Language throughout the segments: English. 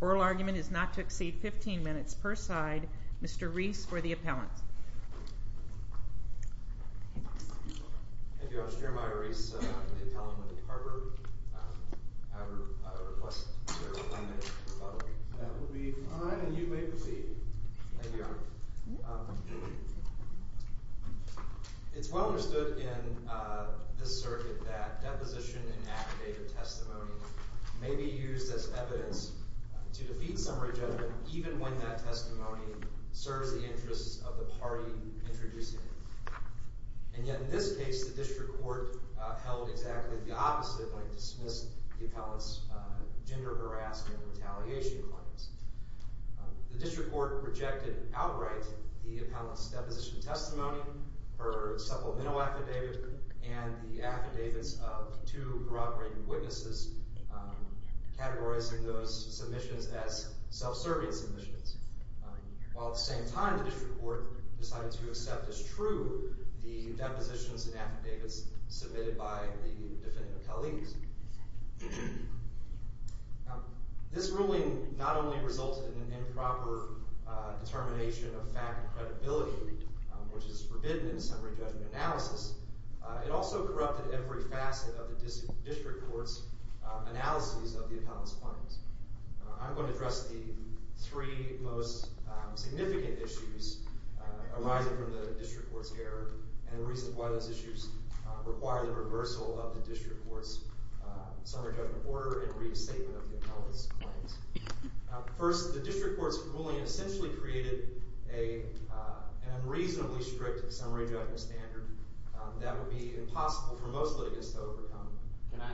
Oral argument is not to exceed 15 minutes per side. Mr. Rees for the appellant. Thank you, Your Honor. I'm Jeremiah Rees, the appellant with the Harper. I request to serve 10 minutes per side. That would be fine, and you may proceed. Thank you, Your Honor. It's well understood in this circuit that deposition and affidavit testimony may be used as evidence to defeat summary judgment even when that testimony serves the interests of the party introducing it. And yet in this case, the district court held exactly the opposite when it dismissed the appellant's gender harassment retaliation claims. The district court rejected outright the appellant's deposition testimony, her supplemental affidavit, and the affidavits of two corroborating witnesses, categorizing those submissions as self-serving submissions. While at the same time the district court decided to accept as true the depositions and affidavits submitted by the defendant appellees. This ruling not only resulted in an improper determination of fact and credibility, which is forbidden in summary judgment analysis, it also corrupted every facet of the district court's analyses of the appellant's claims. I'm going to address the three most significant issues arising from the district court's error and the reasons why those issues require the reversal of the district court's summary judgment order and restatement of the appellant's claims. First, the district court's ruling essentially created an unreasonably strict summary judgment standard that would be impossible for most litigants to overcome. Can I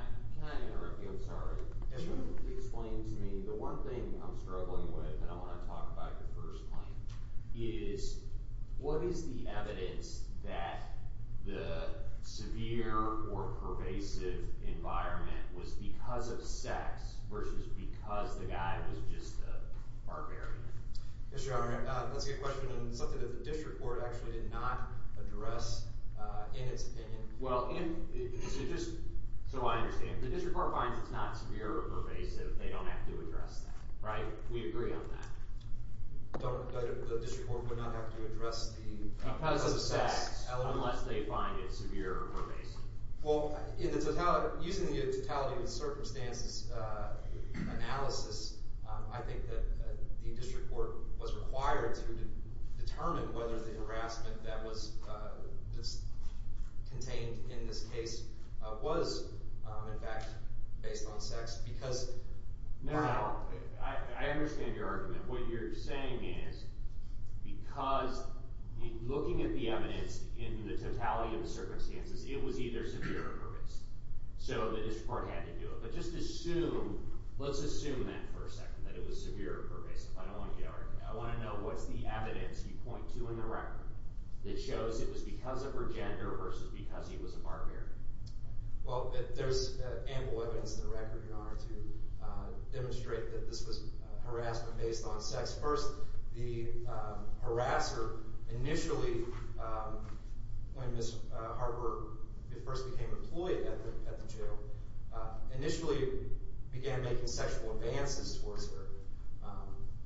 interrupt you? I'm sorry. Can you explain to me, the one thing I'm struggling with, and I want to talk about your first point, is what is the evidence that the severe or pervasive environment was because of sex versus because the guy was just a barbarian? Yes, Your Honor. Let's get a question on something that the district court actually did not address in its opinion. Well, just so I understand, the district court finds it's not severe or pervasive. They don't have to address that, right? We agree on that. But the district court would not have to address the— Because of sex, unless they find it severe or pervasive. Well, using the totality of the circumstances analysis, I think that the district court was required to determine whether the harassment that was contained in this case was, in fact, based on sex because— No, no. I understand your argument. What you're saying is because looking at the evidence in the totality of the circumstances, it was either severe or pervasive. So the district court had to do it. But just assume—let's assume that for a second, that it was severe or pervasive. I don't want to get out of—I want to know what's the evidence you point to in the record that shows it was because of her gender versus because he was a barbarian. Well, there's ample evidence in the record, Your Honor, to demonstrate that this was harassment based on sex. First, the harasser initially, when Ms. Harper first became employed at the jail, initially began making sexual advances towards her,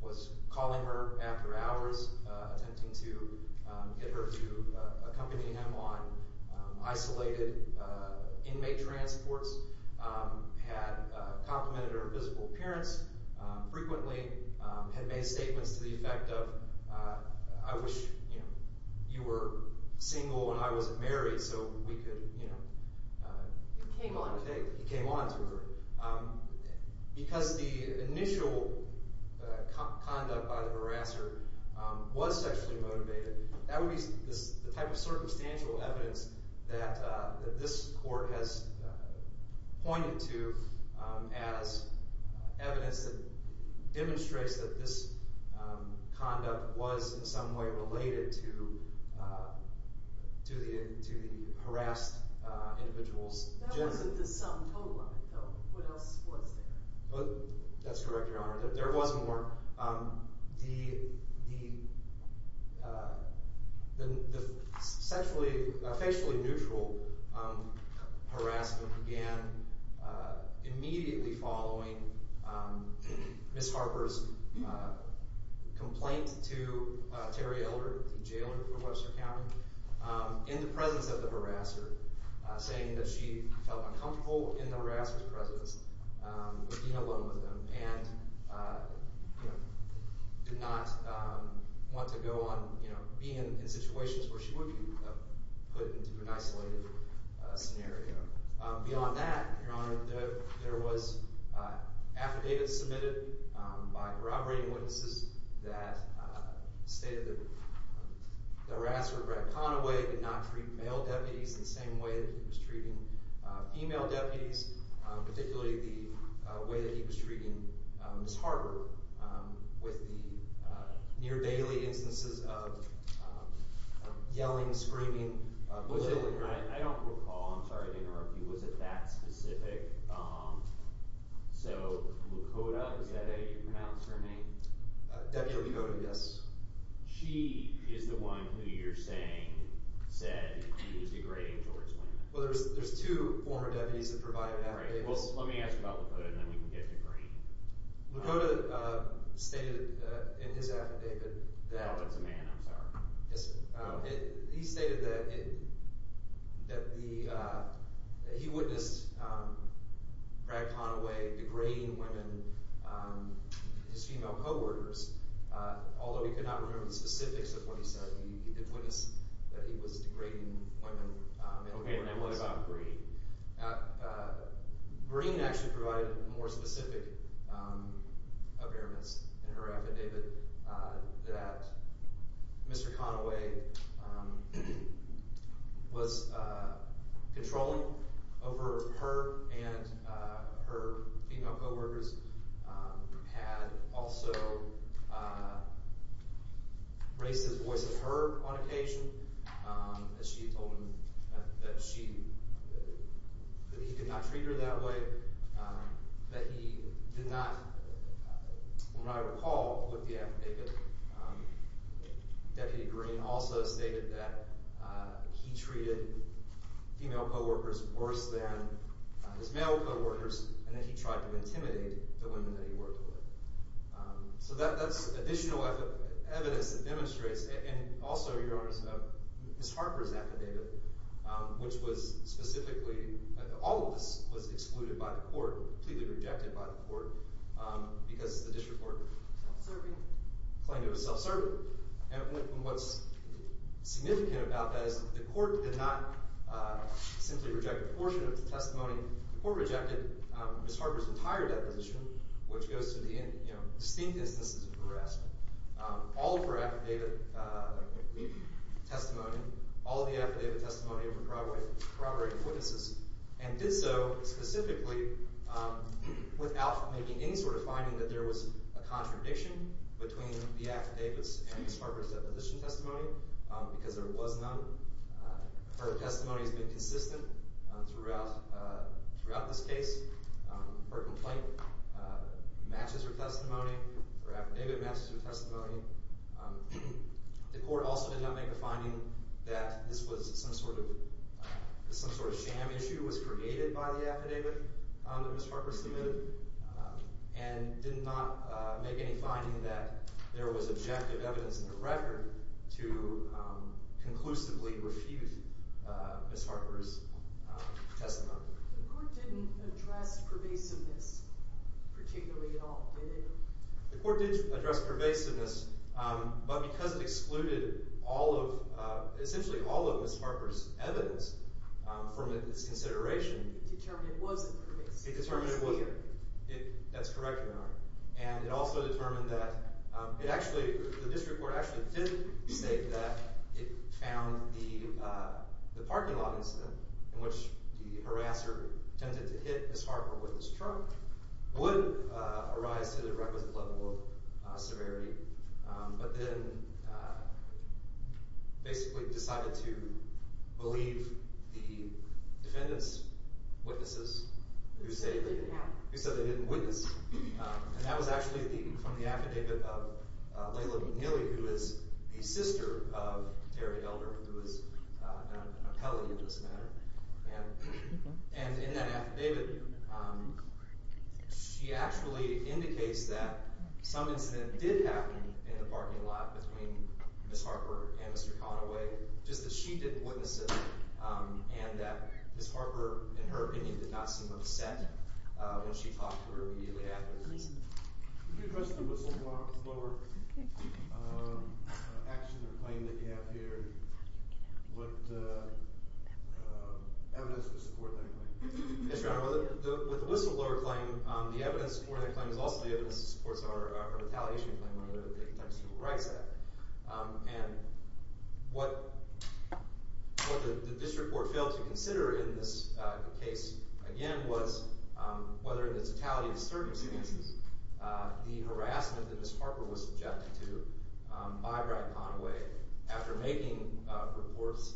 was calling her after hours, attempting to get her to accompany him on isolated inmate transports, had complimented her physical appearance frequently, had made statements to the effect of, I wish you were single and I wasn't married so we could— He came on to her. Because the initial conduct by the harasser was sexually motivated, that would be the type of circumstantial evidence that this court has pointed to as evidence that demonstrates that this conduct was in some way related to the harassed individual's gender. What else was there? That's correct, Your Honor. There was more. The sexually—facially neutral harassment began immediately following Ms. Harper's complaint to Terry Elder, the jailer for Webster County, in the presence of the harasser, saying that she felt uncomfortable in the harasser's presence. She was being alone with him and did not want to go on being in situations where she would be put into an isolated scenario. Beyond that, Your Honor, there was affidavits submitted by corroborating witnesses that stated that the harasser, Brad Conaway, did not treat male deputies in the same way that he was treating female deputies, particularly the way that he was treating Ms. Harper with the near-daily instances of yelling, screaming, bullying. I don't recall. I'm sorry to interrupt you. Was it that specific? So Lakota, is that how you pronounce her name? Deputy Lakota, yes. She is the one who you're saying said he was degrading George Flayman. Well, there's two former deputies that provided affidavits. Great. Well, let me ask about Lakota, and then we can get to Green. Lakota stated in his affidavit that— Oh, that's a man. I'm sorry. Yes, sir. He stated that he witnessed Brad Conaway degrading women, his female co-workers, although he could not remember the specifics of what he said. He did witness that he was degrading women. Okay, and what about Green? Green actually provided more specific impairments in her affidavit that Mr. Conaway was controlling over her and her female co-workers had also raised his voice at her on occasion. She told him that he could not treat her that way, that he did not—when I recall with the affidavit, Deputy Green also stated that he treated female co-workers worse than his male co-workers, and that he tried to intimidate the women that he worked with. So that's additional evidence that demonstrates—and also, Your Honors, Ms. Harper's affidavit, which was specifically—all of this was excluded by the court, completely rejected by the court, because the district court claimed it was self-serving. And what's significant about that is that the court did not simply reject a portion of the testimony. The court rejected Ms. Harper's entire deposition, which goes to the distinct instances of harassment. All of her affidavit testimony, all of the affidavit testimony were corroborated witnesses, and did so specifically without making any sort of finding that there was a contradiction between the affidavits and Ms. Harper's deposition testimony because there was none. Her testimony has been consistent throughout this case. Her complaint matches her testimony. Her affidavit matches her testimony. The court also did not make a finding that this was some sort of sham issue that was created by the affidavit that Ms. Harper submitted, and did not make any finding that there was objective evidence in the record to conclusively refuse Ms. Harper's testimony. The court didn't address pervasiveness particularly at all, did it? The court did address pervasiveness, but because it excluded all of – essentially all of Ms. Harper's evidence from its consideration… It determined it wasn't pervasive. It determined it wasn't. That's correct, Your Honor. And it also determined that it actually – the district court actually did state that it found the parking lot incident in which the harasser attempted to hit Ms. Harper with his trunk would arise to the requisite level of severity, but then basically decided to believe the defendant's witnesses who said they didn't witness. And that was actually from the affidavit of Layla McNeely, who is the sister of Terry Elder, who is now an appellee in this matter. And in that affidavit, she actually indicates that some incident did happen in the parking lot between Ms. Harper and Mr. Conaway, just that she didn't witness it and that Ms. Harper, in her opinion, did not seem upset when she talked to her immediately afterwards. Could you address the whistleblower action or claim that you have here and what evidence to support that claim? Yes, Your Honor. With the whistleblower claim, the evidence to support that claim is also the evidence that supports our retaliation claim under the Victims of Civil Rights Act. And what the district court failed to consider in this case, again, was whether in the totality of the circumstances the harassment that Ms. Harper was subjected to by Brad Conaway after making reports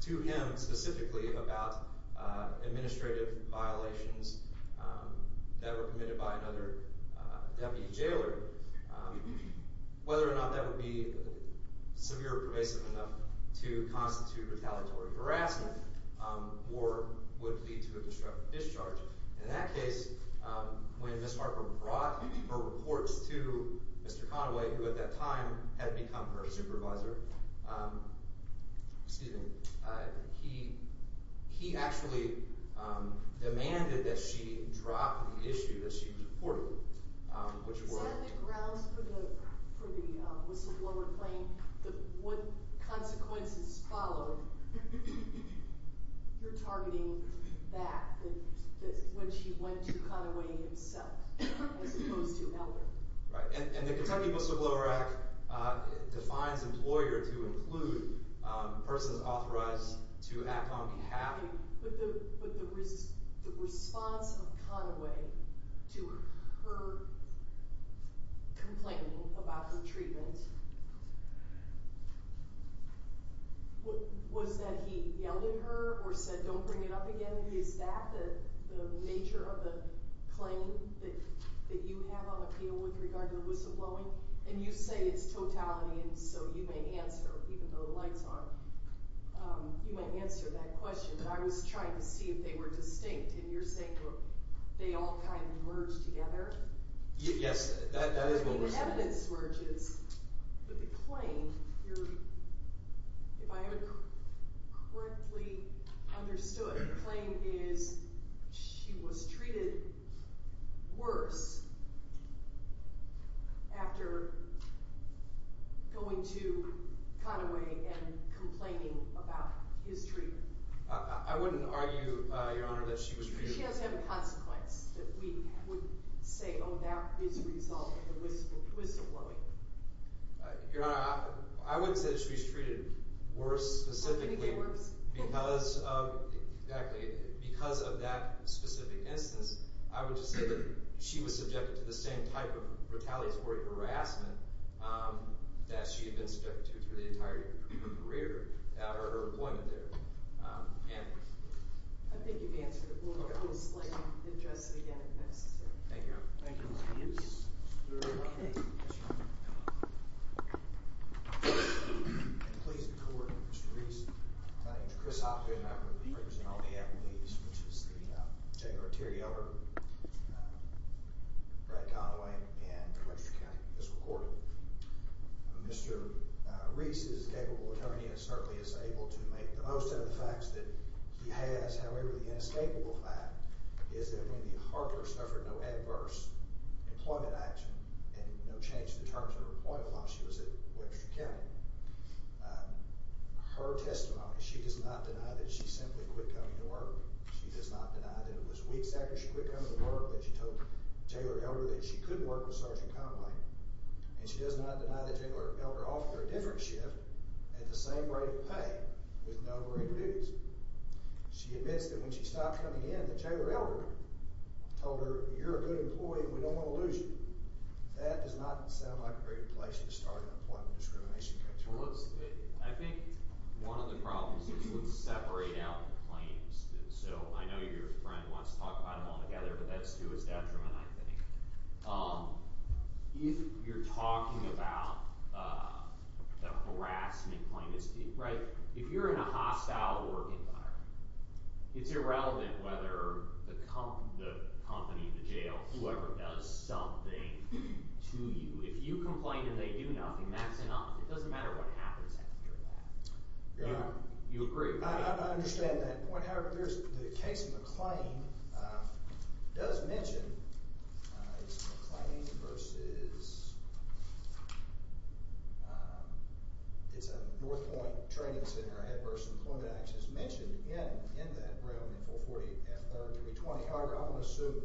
to him specifically about administrative violations that were committed by another deputy jailer. Whether or not that would be severe or pervasive enough to constitute retaliatory harassment or would lead to a disruptive discharge. In that case, when Ms. Harper brought her reports to Mr. Conaway, who at that time had become her supervisor, he actually demanded that she drop the issue that she was reporting. Is that the grounds for the whistleblower claim? What consequences followed your targeting back when she went to Conaway himself as opposed to Elder? Right. And the Kentucky Whistleblower Act defines employer to include persons authorized to act on behalf… But the response of Conaway to her complaining about her treatment, was that he yelled at her or said, don't bring it up again? Is that the nature of the claim that you have on appeal with regard to the whistleblowing? And you say it's totality, and so you may answer, even though the lights are on, you may answer that question. But I was trying to see if they were distinct, and you're saying they all kind of merged together? Yes, that is what we're saying. But the claim, if I have it correctly understood, the claim is she was treated worse after going to Conaway and complaining about his treatment. I wouldn't argue, Your Honor, that she was treated worse. But she does have a consequence that we would say, oh, that is a result of the whistleblowing. Your Honor, I wouldn't say that she was treated worse specifically because of that specific instance. I would just say that she was subjected to the same type of retaliatory harassment that she had been subjected to through the entire career out of her employment there. I think you've answered it. We'll explain and address it again if necessary. Thank you. Thank you. You're very welcome. Thank you. You're welcome. Please be cordoned, Mr. Reese. My name is Chris Hopkins. I represent all the attorneys, which is the J.R. Terrio, Brad Conaway, and the Register of County Officials. Mr. Reese is a capable attorney and certainly is able to make the most of the facts that he has. However, the inescapable fact is that when Harper suffered no adverse employment action and no change to the terms of her employment while she was at Webster County, her testimony, she does not deny that she simply quit coming to work. She does not deny that it was weeks after she quit coming to work that she told Taylor Elder that she couldn't work with Sergeant Conaway. And she does not deny that Taylor Elder offered her a different shift at the same rate of pay with no greater dues. She admits that when she stopped coming in that Taylor Elder told her, you're a good employee and we don't want to lose you. That does not sound like a great place to start an employment discrimination case. Well, let's – I think one of the problems is let's separate out the claims. So I know your friend wants to talk about them all together, but that's to his detriment, I think. If you're talking about the harassment claim, right? If you're in a hostile work environment, it's irrelevant whether the company, the jail, whoever does something to you. If you complain and they do nothing, that's enough. It doesn't matter what happens after that. You agree? I understand that point. However, there's the case of McLean does mention it's McLean versus – it's a North Point training center. I had versus employment actions mentioned in that room in 440 F3-320. However, I'm going to assume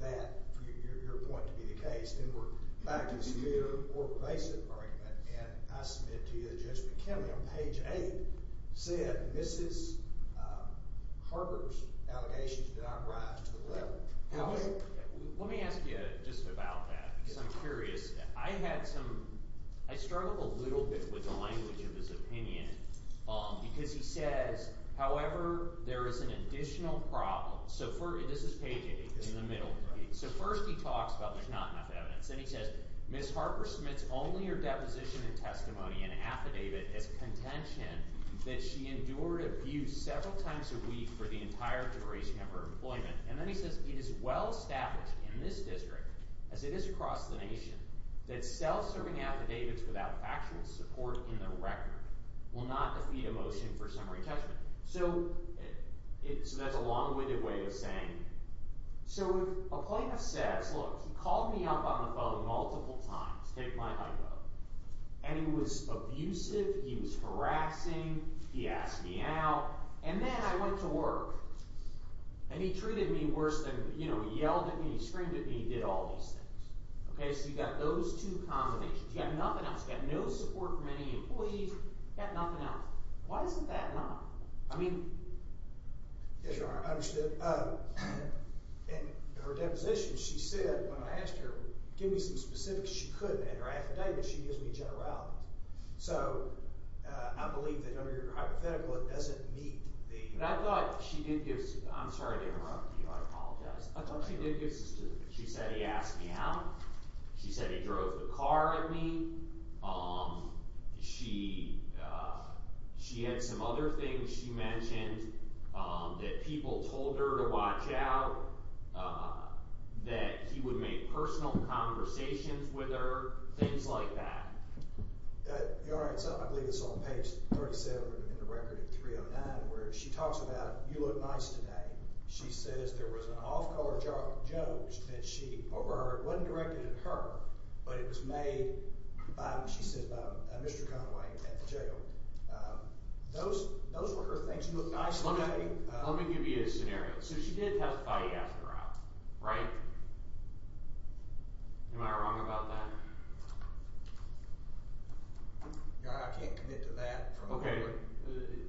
that for your point to be the case, then we're back to the severe or basic argument. And I submit to you that Judge McKinley on page 8 said Mrs. Harper's allegations did not rise to the level. Let me ask you just about that because I'm curious. I had some – I struggled a little bit with the language of his opinion because he says, however, there is an additional problem. So this is page 8 in the middle. So first he talks about there's not enough evidence. Then he says, Ms. Harper submits only her deposition and testimony and affidavit as contention that she endured abuse several times a week for the entire duration of her employment. And then he says, it is well-established in this district, as it is across the nation, that self-serving affidavits without factual support in the record will not defeat a motion for summary judgment. So that's a long-winded way of saying – so if a plaintiff says, look, he called me up on the phone multiple times to take my ID, and he was abusive, he was harassing, he asked me out, and then I went to work. And he treated me worse than – he yelled at me, he screamed at me, he did all these things. So you've got those two combinations. You've got nothing else. You've got no support from any employees. You've got nothing else. Why isn't that enough? I mean – Yes, Your Honor. I understood. In her deposition, she said when I asked her, give me some specifics. She couldn't. In her affidavit, she gives me generalities. So I believe that under your hypothetical, it doesn't meet the – But I thought she did give – I'm sorry to interrupt you. I apologize. I thought she did give – she said he asked me out. She said he drove the car at me. She had some other things she mentioned that people told her to watch out, that he would make personal conversations with her, things like that. Your Honor, I believe it's on page 37 in the record in 309 where she talks about you look nice today. She says there was an off-caller joke that she overheard. It wasn't directed at her, but it was made, she says, by Mr. Conway at the jail. Those were her things. You look nice today. Let me give you a scenario. So she did testify to you after Rob, right? Am I wrong about that? Your Honor, I can't commit to that. Okay.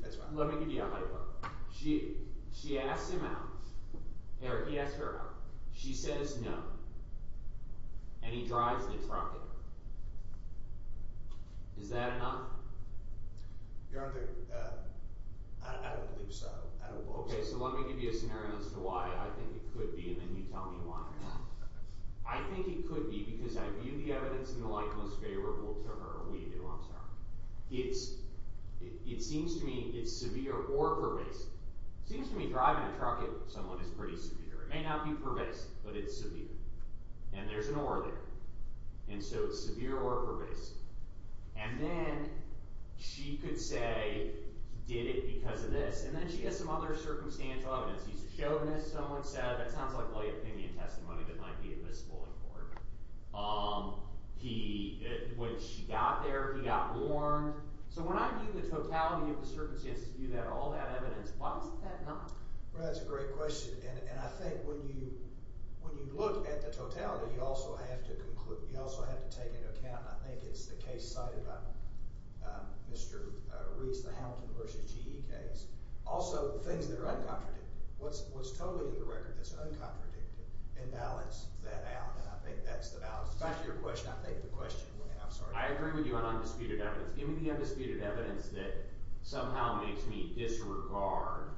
That's fine. Let me give you a hypothetical. So she asked him out – or he asked her out. She says no, and he drives the truck at her. Is that enough? Your Honor, I don't believe so. I don't believe so. Okay, so let me give you a scenario as to why I think it could be, and then you tell me why or not. I think it could be because I view the evidence in the light most favorable to her. We do, I'm sorry. It seems to me it's severe or pervasive. It seems to me driving a truck at someone is pretty severe. It may not be pervasive, but it's severe. And there's an or there. And so it's severe or pervasive. And then she could say he did it because of this. And then she has some other circumstantial evidence. He's a showman, as someone said. That sounds like light opinion testimony that might be admissible in court. He – when she got there, he got warned. So when I view the totality of the circumstances, view all that evidence, why is that not? Well, that's a great question. And I think when you look at the totality, you also have to conclude – you also have to take into account, and I think it's the case cited by Mr. Reese, the Hamilton v. G.E. case. Also, things that are uncontradicted. What's totally in the record that's uncontradicted and balance that out. And I think that's the balance. Back to your question. I think the question – I'm sorry. I agree with you on undisputed evidence. Give me the undisputed evidence that somehow makes me disregard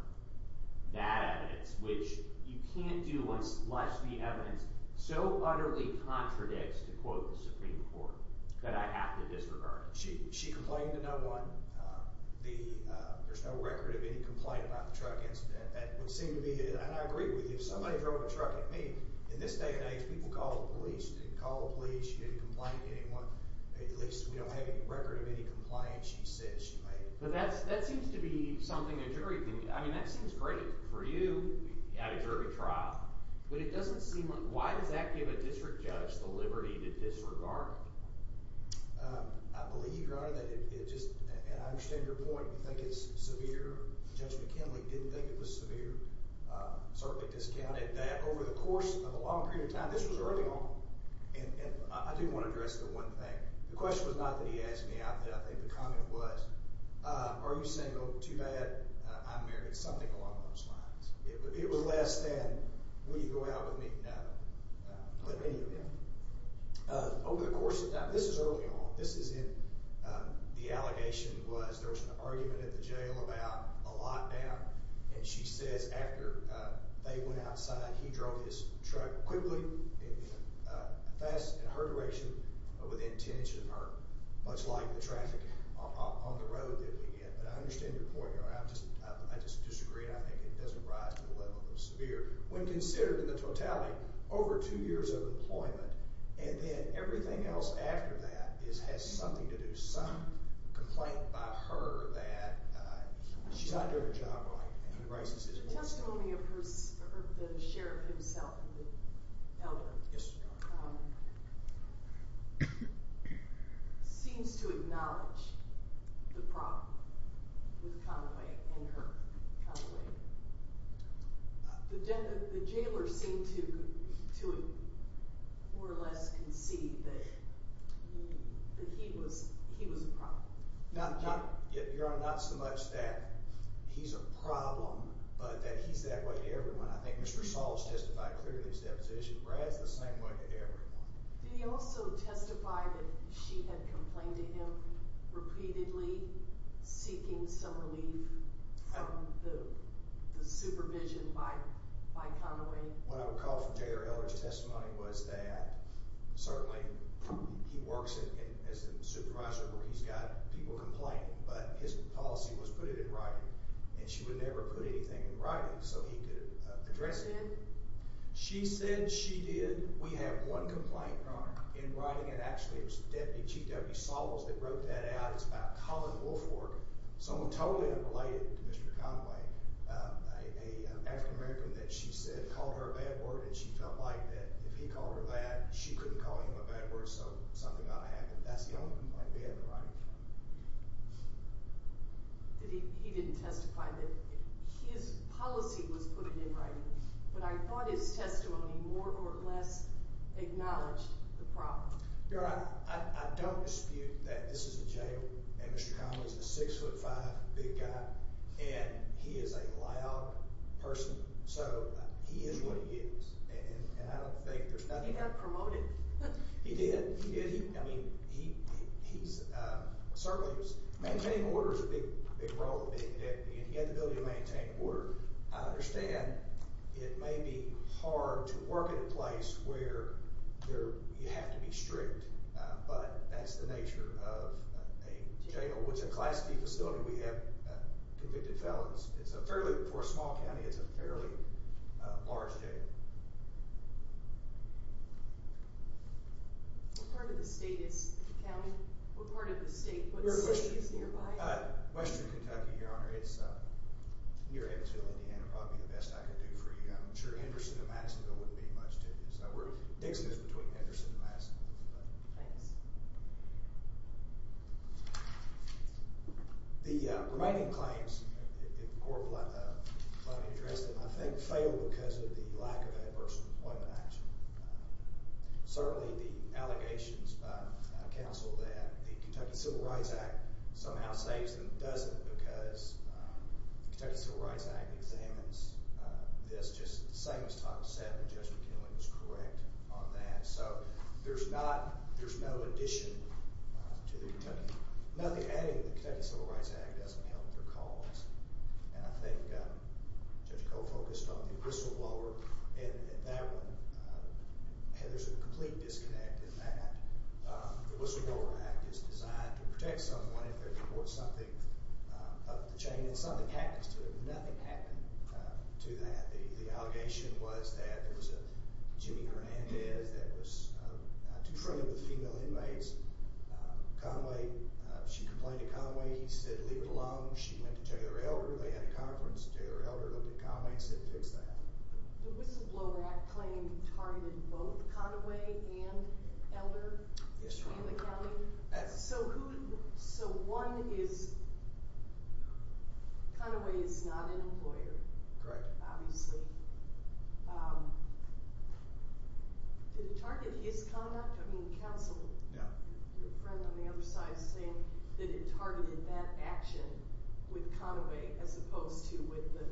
that evidence, which you can't do unless the evidence so utterly contradicts, to quote the Supreme Court, that I have to disregard it. She complained to no one. There's no record of any complaint about the truck incident. That would seem to be – and I agree with you. If somebody drove a truck at me, in this day and age, people call the police. They can call the police. She didn't complain to anyone. At least we don't have any record of any complaints she said she made. But that seems to be something a jury can – I mean that seems great for you at a jury trial. But it doesn't seem – why does that give a district judge the liberty to disregard? I believe, Your Honor, that it just – and I understand your point. You think it's severe. Judge McKinley didn't think it was severe. She certainly discounted that over the course of a long period of time – this was early on. And I do want to address the one thing. The question was not that he asked me out that I think the comment was. Are you saying, oh, too bad, I'm married, something along those lines. It was less than, will you go out with me? No. Let me. Over the course of time – this is early on. This is in – the allegation was there was an argument at the jail about a lockdown. And she says after they went outside, he drove his truck quickly, fast in her direction, but with intention, much like the traffic on the road that we get. But I understand your point, Your Honor. I just disagree. I think it doesn't rise to the level of severe. When considered in the totality, over two years of employment, and then everything else after that has something to do – some complaint by her that she's not doing her job right. The testimony of the sheriff himself, the elder, seems to acknowledge the problem with Conway and her. The jailer seemed to more or less concede that he was the problem. Your Honor, not so much that he's a problem, but that he's that way to everyone. I think Mr. Saul has testified clearly to his deposition. Brad's the same way to everyone. Did he also testify that she had complained to him repeatedly, seeking some relief from the supervision by Conway? What I recall from J.R. Elder's testimony was that certainly he works as the supervisor where he's got people complaining, but his policy was put it in writing, and she would never put anything in writing so he could address it. She said she did. We have one complaint in writing, and actually it was Deputy G.W. Saul's that wrote that out. It's about Colin Woolford, someone totally unrelated to Mr. Conway, an African-American that she said called her a bad word, and she felt like if he called her that, she couldn't call him a bad word, so something ought to happen. That's the only complaint we have in writing. He didn't testify. His policy was put it in writing, but I thought his testimony more or less acknowledged the problem. Your Honor, I don't dispute that this is a jail, and Mr. Conway's a 6'5", big guy, and he is a loud person, so he is what he is, and I don't think there's nothing— He got promoted. He did. He did. I mean, he certainly was—maintaining order is a big role, and he had the ability to maintain order. I understand it may be hard to work in a place where you have to be strict, but that's the nature of a jail, which a Class D facility, we have convicted felons. For a small county, it's a fairly large jail. What part of the state is the county? What part of the state? What city is nearby? Western Kentucky, Your Honor. It's near Evansville, Indiana. It would probably be the best I could do for you. I'm sure Henderson and Madisonville wouldn't be much to do. Dixon is between Henderson and Madisonville. Thanks. The remaining claims, if the court will let me address them, I think failed because of the lack of adverse employment action. Certainly, the allegations by counsel that the Kentucky Civil Rights Act somehow saves them doesn't because the Kentucky Civil Rights Act examines this just the same as Title VII. Judge McKinley was correct on that. So there's not—there's no addition to the Kentucky—nothing adding to the Kentucky Civil Rights Act doesn't help their cause. And I think Judge Coe focused on the whistleblower in that one. There's a complete disconnect in that. The Whistleblower Act is designed to protect someone if they report something up the chain, and something happens to them. Nothing happened to that. The allegation was that there was a Jimmy Hernandez that was too friendly with female inmates. Conway—she complained to Conway. He said, leave it alone. She went to tell your elder. They had a conference. The elder looked at Conway and said, fix that. The Whistleblower Act claim targeted both Conway and Elder in the county. Yes, Your Honor. So who—so one is—Conway is not an employer. Correct. Obviously. Did it target his conduct? I mean, counsel— Yeah. Your friend on the other side is saying that it targeted that action with Conway as opposed to with the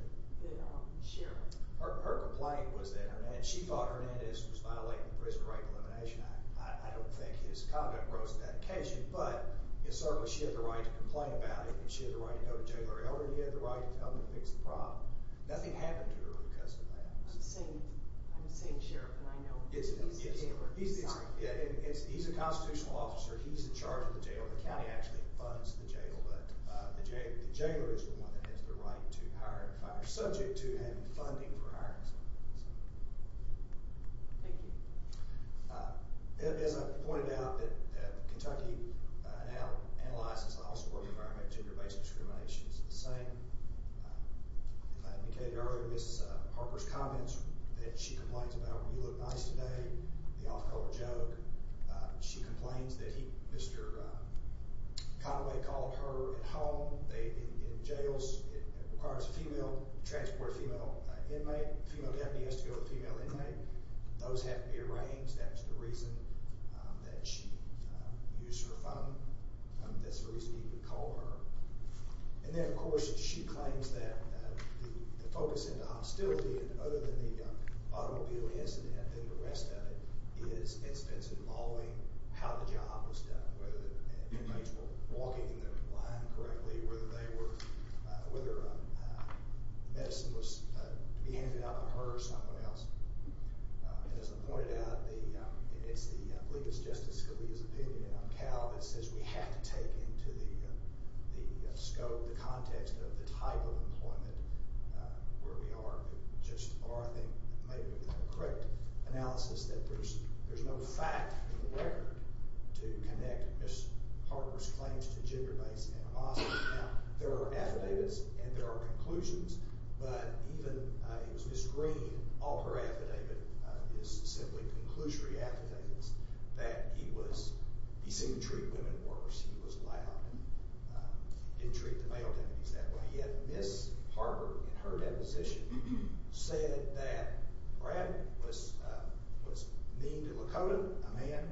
sheriff. Her complaint was that Hernandez—she thought Hernandez was violating the Prison Right Elimination Act. I don't think his conduct rose to that occasion, but certainly she had the right to complain about it. She had the right to go to jail or her elder. He had the right to come and fix the problem. Nothing happened to her because of that. I'm saying sheriff, and I know he's a jailer. He's a constitutional officer. He's in charge of the jail. The county actually funds the jail. But the jailer is the one that has the right to hire—subject to having funding for hiring someone. Thank you. As I pointed out, Kentucky now analyzes the law-supporting environment for gender-based discrimination. It's the same. As I indicated earlier, Ms. Harper's comments that she complains about, you look nice today, the off-color joke. She complains that Mr. Conway called her at home. In jails, it requires a female—transport a female inmate. A female deputy has to go with a female inmate. Those have to be arranged. That was the reason that she used her phone. That's the reason he would call her. And then, of course, she claims that the focus of the hostility, other than the automobile incident and the rest of it, is involving how the job was done, whether the inmates were walking in the line correctly, whether they were—whether the medicine was to be handed out by her or someone else. As I pointed out, it's the—I believe it's Justice Scalia's opinion, on Cal, that says we have to take into the scope, the context, of the type of employment where we are. Or I think maybe we can have a correct analysis that there's no fact in the record to connect Ms. Harper's claims to gender-based animosity. Now, there are affidavits and there are conclusions, but even Ms. Green, all her affidavit is simply conclusory affidavits that he was—he seemed to treat women worse. He was loud and didn't treat the male deputies that way. Yet Ms. Harper, in her deposition, said that Brad was mean to Lakota, a man,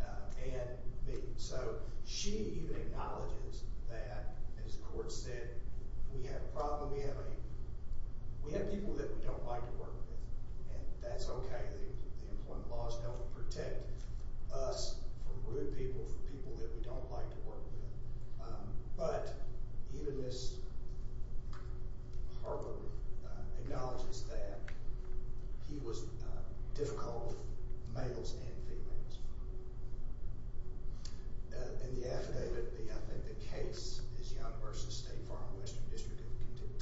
and me. So she even acknowledges that, as the court said, we have a problem. We have people that we don't like to work with, and that's okay. The employment laws don't protect us from rude people, from people that we don't like to work with. But even Ms. Harper acknowledges that he was difficult with males and females. In the affidavit, I think the case is Young versus State Farm, Western District of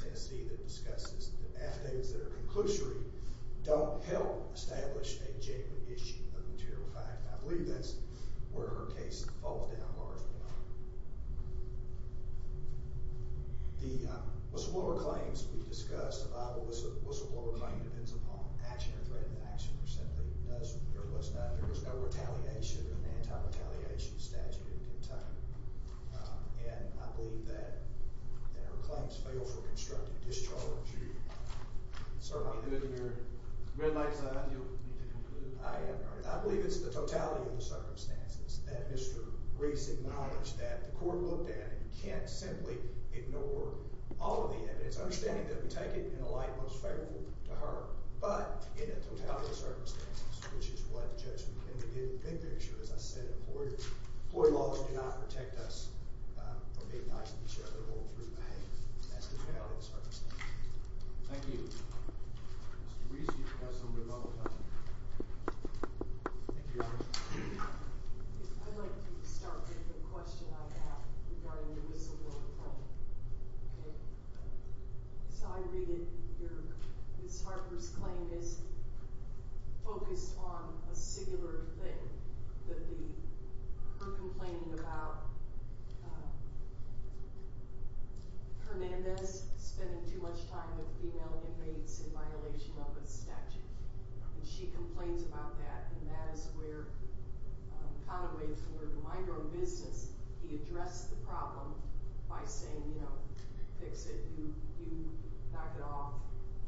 Tennessee that discusses the affidavits that are conclusory don't help establish a genuine issue of material fact, and I believe that's where her case falls down largely. The whistleblower claims we discussed, the Bible whistleblower claim depends upon action or threat of action or simply does or was not. There was no retaliation in an anti-retaliation statute in Kentucky, and I believe that her claims fail for constructive discharge. I believe it's the totality of the circumstances that Mr. Reese acknowledged that the court looked at, and you can't simply ignore all of the evidence, understanding that we take it in a light most favorable to her, but in a totality of circumstances, which is what the judge indicated in the big picture, as I said, employment laws do not protect us from being nice to each other That's the totality of the circumstances. Thank you. Mr. Reese, you have some rebuttal time. Thank you, Your Honor. I'd like to start with a question I have regarding the whistleblower claim. As I read it, Ms. Harper's claim is focused on a singular thing, her complaining about Hernandez spending too much time with female inmates in violation of a statute. She complains about that, and that is where Conaway, for her to mind her own business, he addressed the problem by saying, you know, fix it, you knock it off,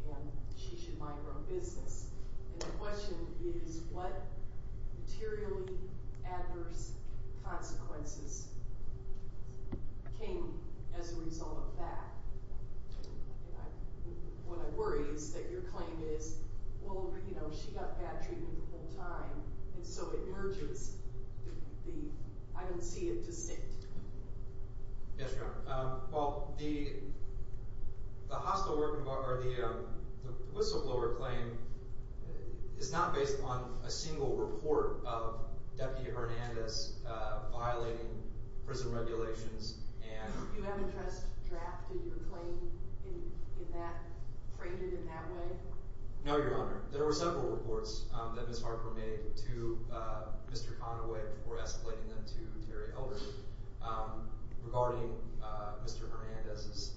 and she should mind her own business. And the question is, what materially adverse consequences came as a result of that? And what I worry is that your claim is, well, you know, she got bad treatment the whole time, and so it urges the, I don't see it, to sit. Yes, Your Honor. Well, the whistleblower claim is not based on a single report of Deputy Hernandez violating prison regulations. You haven't just drafted your claim, framed it in that way? No, Your Honor. There were several reports that Ms. Harper made to Mr. Conaway before escalating them to Terry Elder regarding Mr. Hernandez's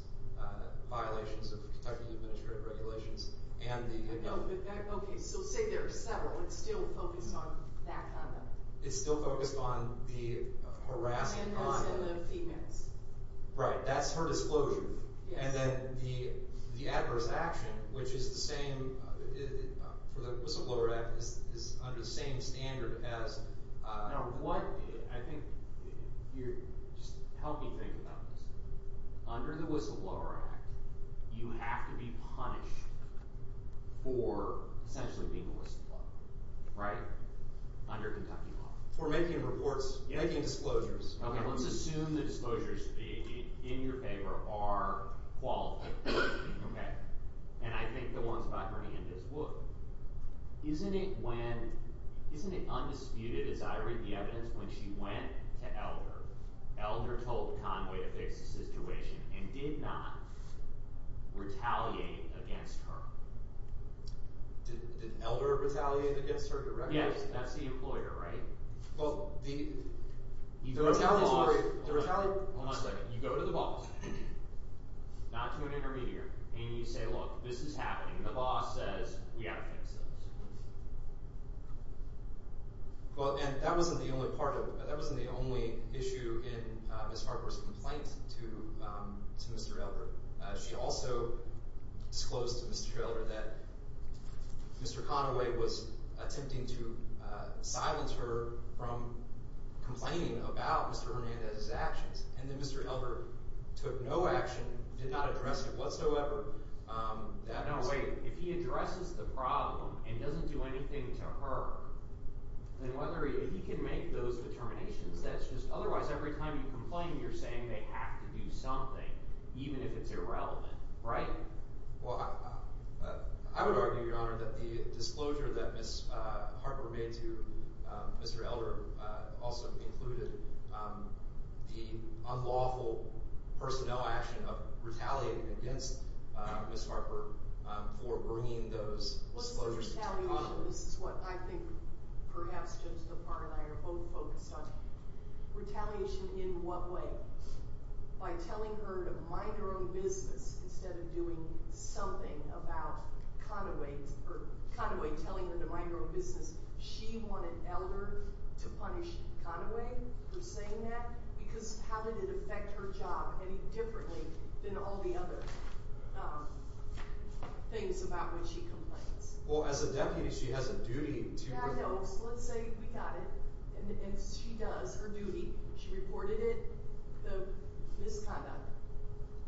violations of Kentucky Administrative Regulations and the other. Okay, so say there are several. It's still focused on that kind of thing? It's still focused on the harassment on the… And the females. Right, that's her disclosure. And then the adverse action, which is the same for the Whistleblower Act, is under the same standard as… Now, what, I think, just help me think about this. Under the Whistleblower Act, you have to be punished for essentially being a whistleblower, right? Under Kentucky law. For making reports, making disclosures. Okay, let's assume the disclosures in your favor are qualified, okay? And I think the ones about Hernandez would. Isn't it when… Isn't it undisputed, as I read the evidence, when she went to Elder, Elder told Conaway to fix the situation and did not retaliate against her? Did Elder retaliate against her directly? Yes, that's the employer, right? Well, the retaliatory… Hold on a second. You go to the boss, not to an intermediary, and you say, Look, this is happening. The boss says we have to fix this. Well, and that wasn't the only part of… That wasn't the only issue in Ms. Farquhar's complaint to Mr. Elder. She also disclosed to Mr. Elder that Mr. Conaway was attempting to silence her from complaining about Mr. Hernandez's actions. And that Mr. Elder took no action, did not address it whatsoever. No, wait. If he addresses the problem and doesn't do anything to her, then whether he – if he can make those determinations, that's just – otherwise, every time you complain, you're saying they have to do something, even if it's irrelevant, right? Well, I would argue, Your Honor, that the disclosure that Ms. Harper made to Mr. Elder also included the unlawful personnel action of retaliating against Ms. Harper for bringing those disclosures to Conaway. What's the retaliation? This is what I think perhaps Judge Farquhar and I are both focused on. Retaliation in what way? By telling her to mind her own business instead of doing something about Conaway or Conaway telling her to mind her own business. She wanted Elder to punish Conaway for saying that because how did it affect her job any differently than all the other things about which she complains? Well, as a deputy, she has a duty to – Yeah, I know. So let's say we got it, and she does her duty. She reported it, the misconduct,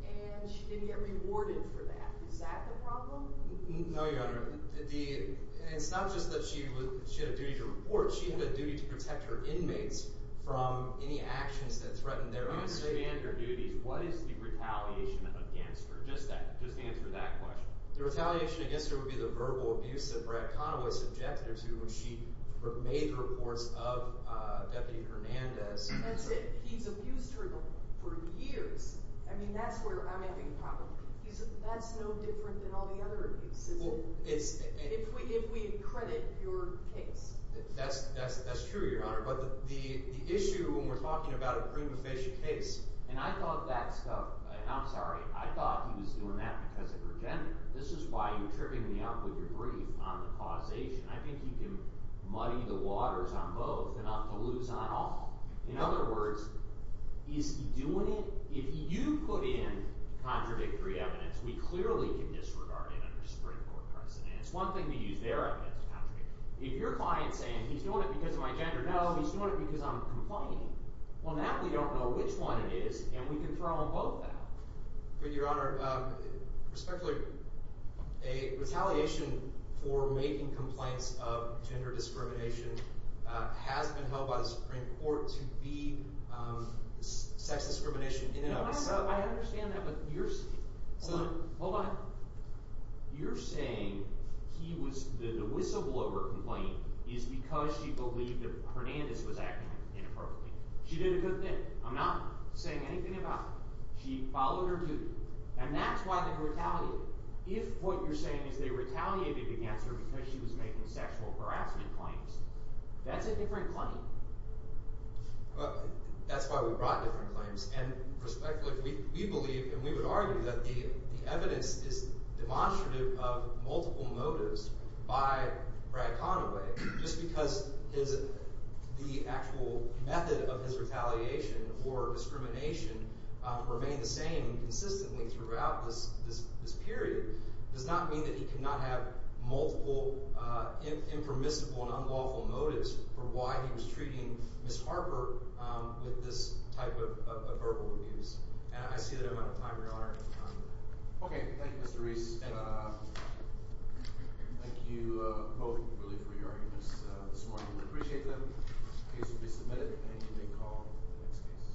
and she didn't get rewarded for that. Is that the problem? No, Your Honor. It's not just that she had a duty to report. She had a duty to protect her inmates from any actions that threatened their own safety. We understand her duties. What is the retaliation against her? Just answer that question. The retaliation against her would be the verbal abuse that Brad Conaway subjected her to when she made the reports of Deputy Hernandez. That's it. He's abused her for years. I mean, that's where I'm having problems. That's no different than all the other abuses. Well, it's – If we credit your case. That's true, Your Honor. But the issue when we're talking about a prima facie case – And I thought that stuff – I'm sorry. I thought he was doing that because of her gender. This is why you're tripping me up with your brief on the causation. I think you can muddy the waters on both enough to lose on all. In other words, is he doing it – If you put in contradictory evidence, we clearly can disregard it under the Supreme Court precedent. It's one thing to use their evidence, Patrick. If your client's saying he's doing it because of my gender, no, he's doing it because I'm complaining. On that, we don't know which one it is, and we can throw them both out. But, Your Honor, respectfully, a retaliation for making complaints of gender discrimination has been held by the Supreme Court to be sex discrimination in and of itself. I understand that, but you're saying – Hold on. Hold on. You're saying he was – the whistleblower complaint is because she believed that Hernandez was acting inappropriately. She did a good thing. I'm not saying anything about it. She followed her duty. And that's why they retaliated. If what you're saying is they retaliated against her because she was making sexual harassment claims, that's a different claim. That's why we brought different claims. And respectfully, we believe and we would argue that the evidence is demonstrative of multiple motives by Brad Conaway. Just because his – the actual method of his retaliation or discrimination remained the same consistently throughout this period does not mean that he could not have multiple impermissible and unlawful motives for why he was treating Ms. Harper with this type of verbal abuse. And I see that I'm out of time, Your Honor. Okay. Thank you, Mr. Reese. And thank you both really for your arguments this morning. We appreciate them. The case will be submitted, and you may call for the next case.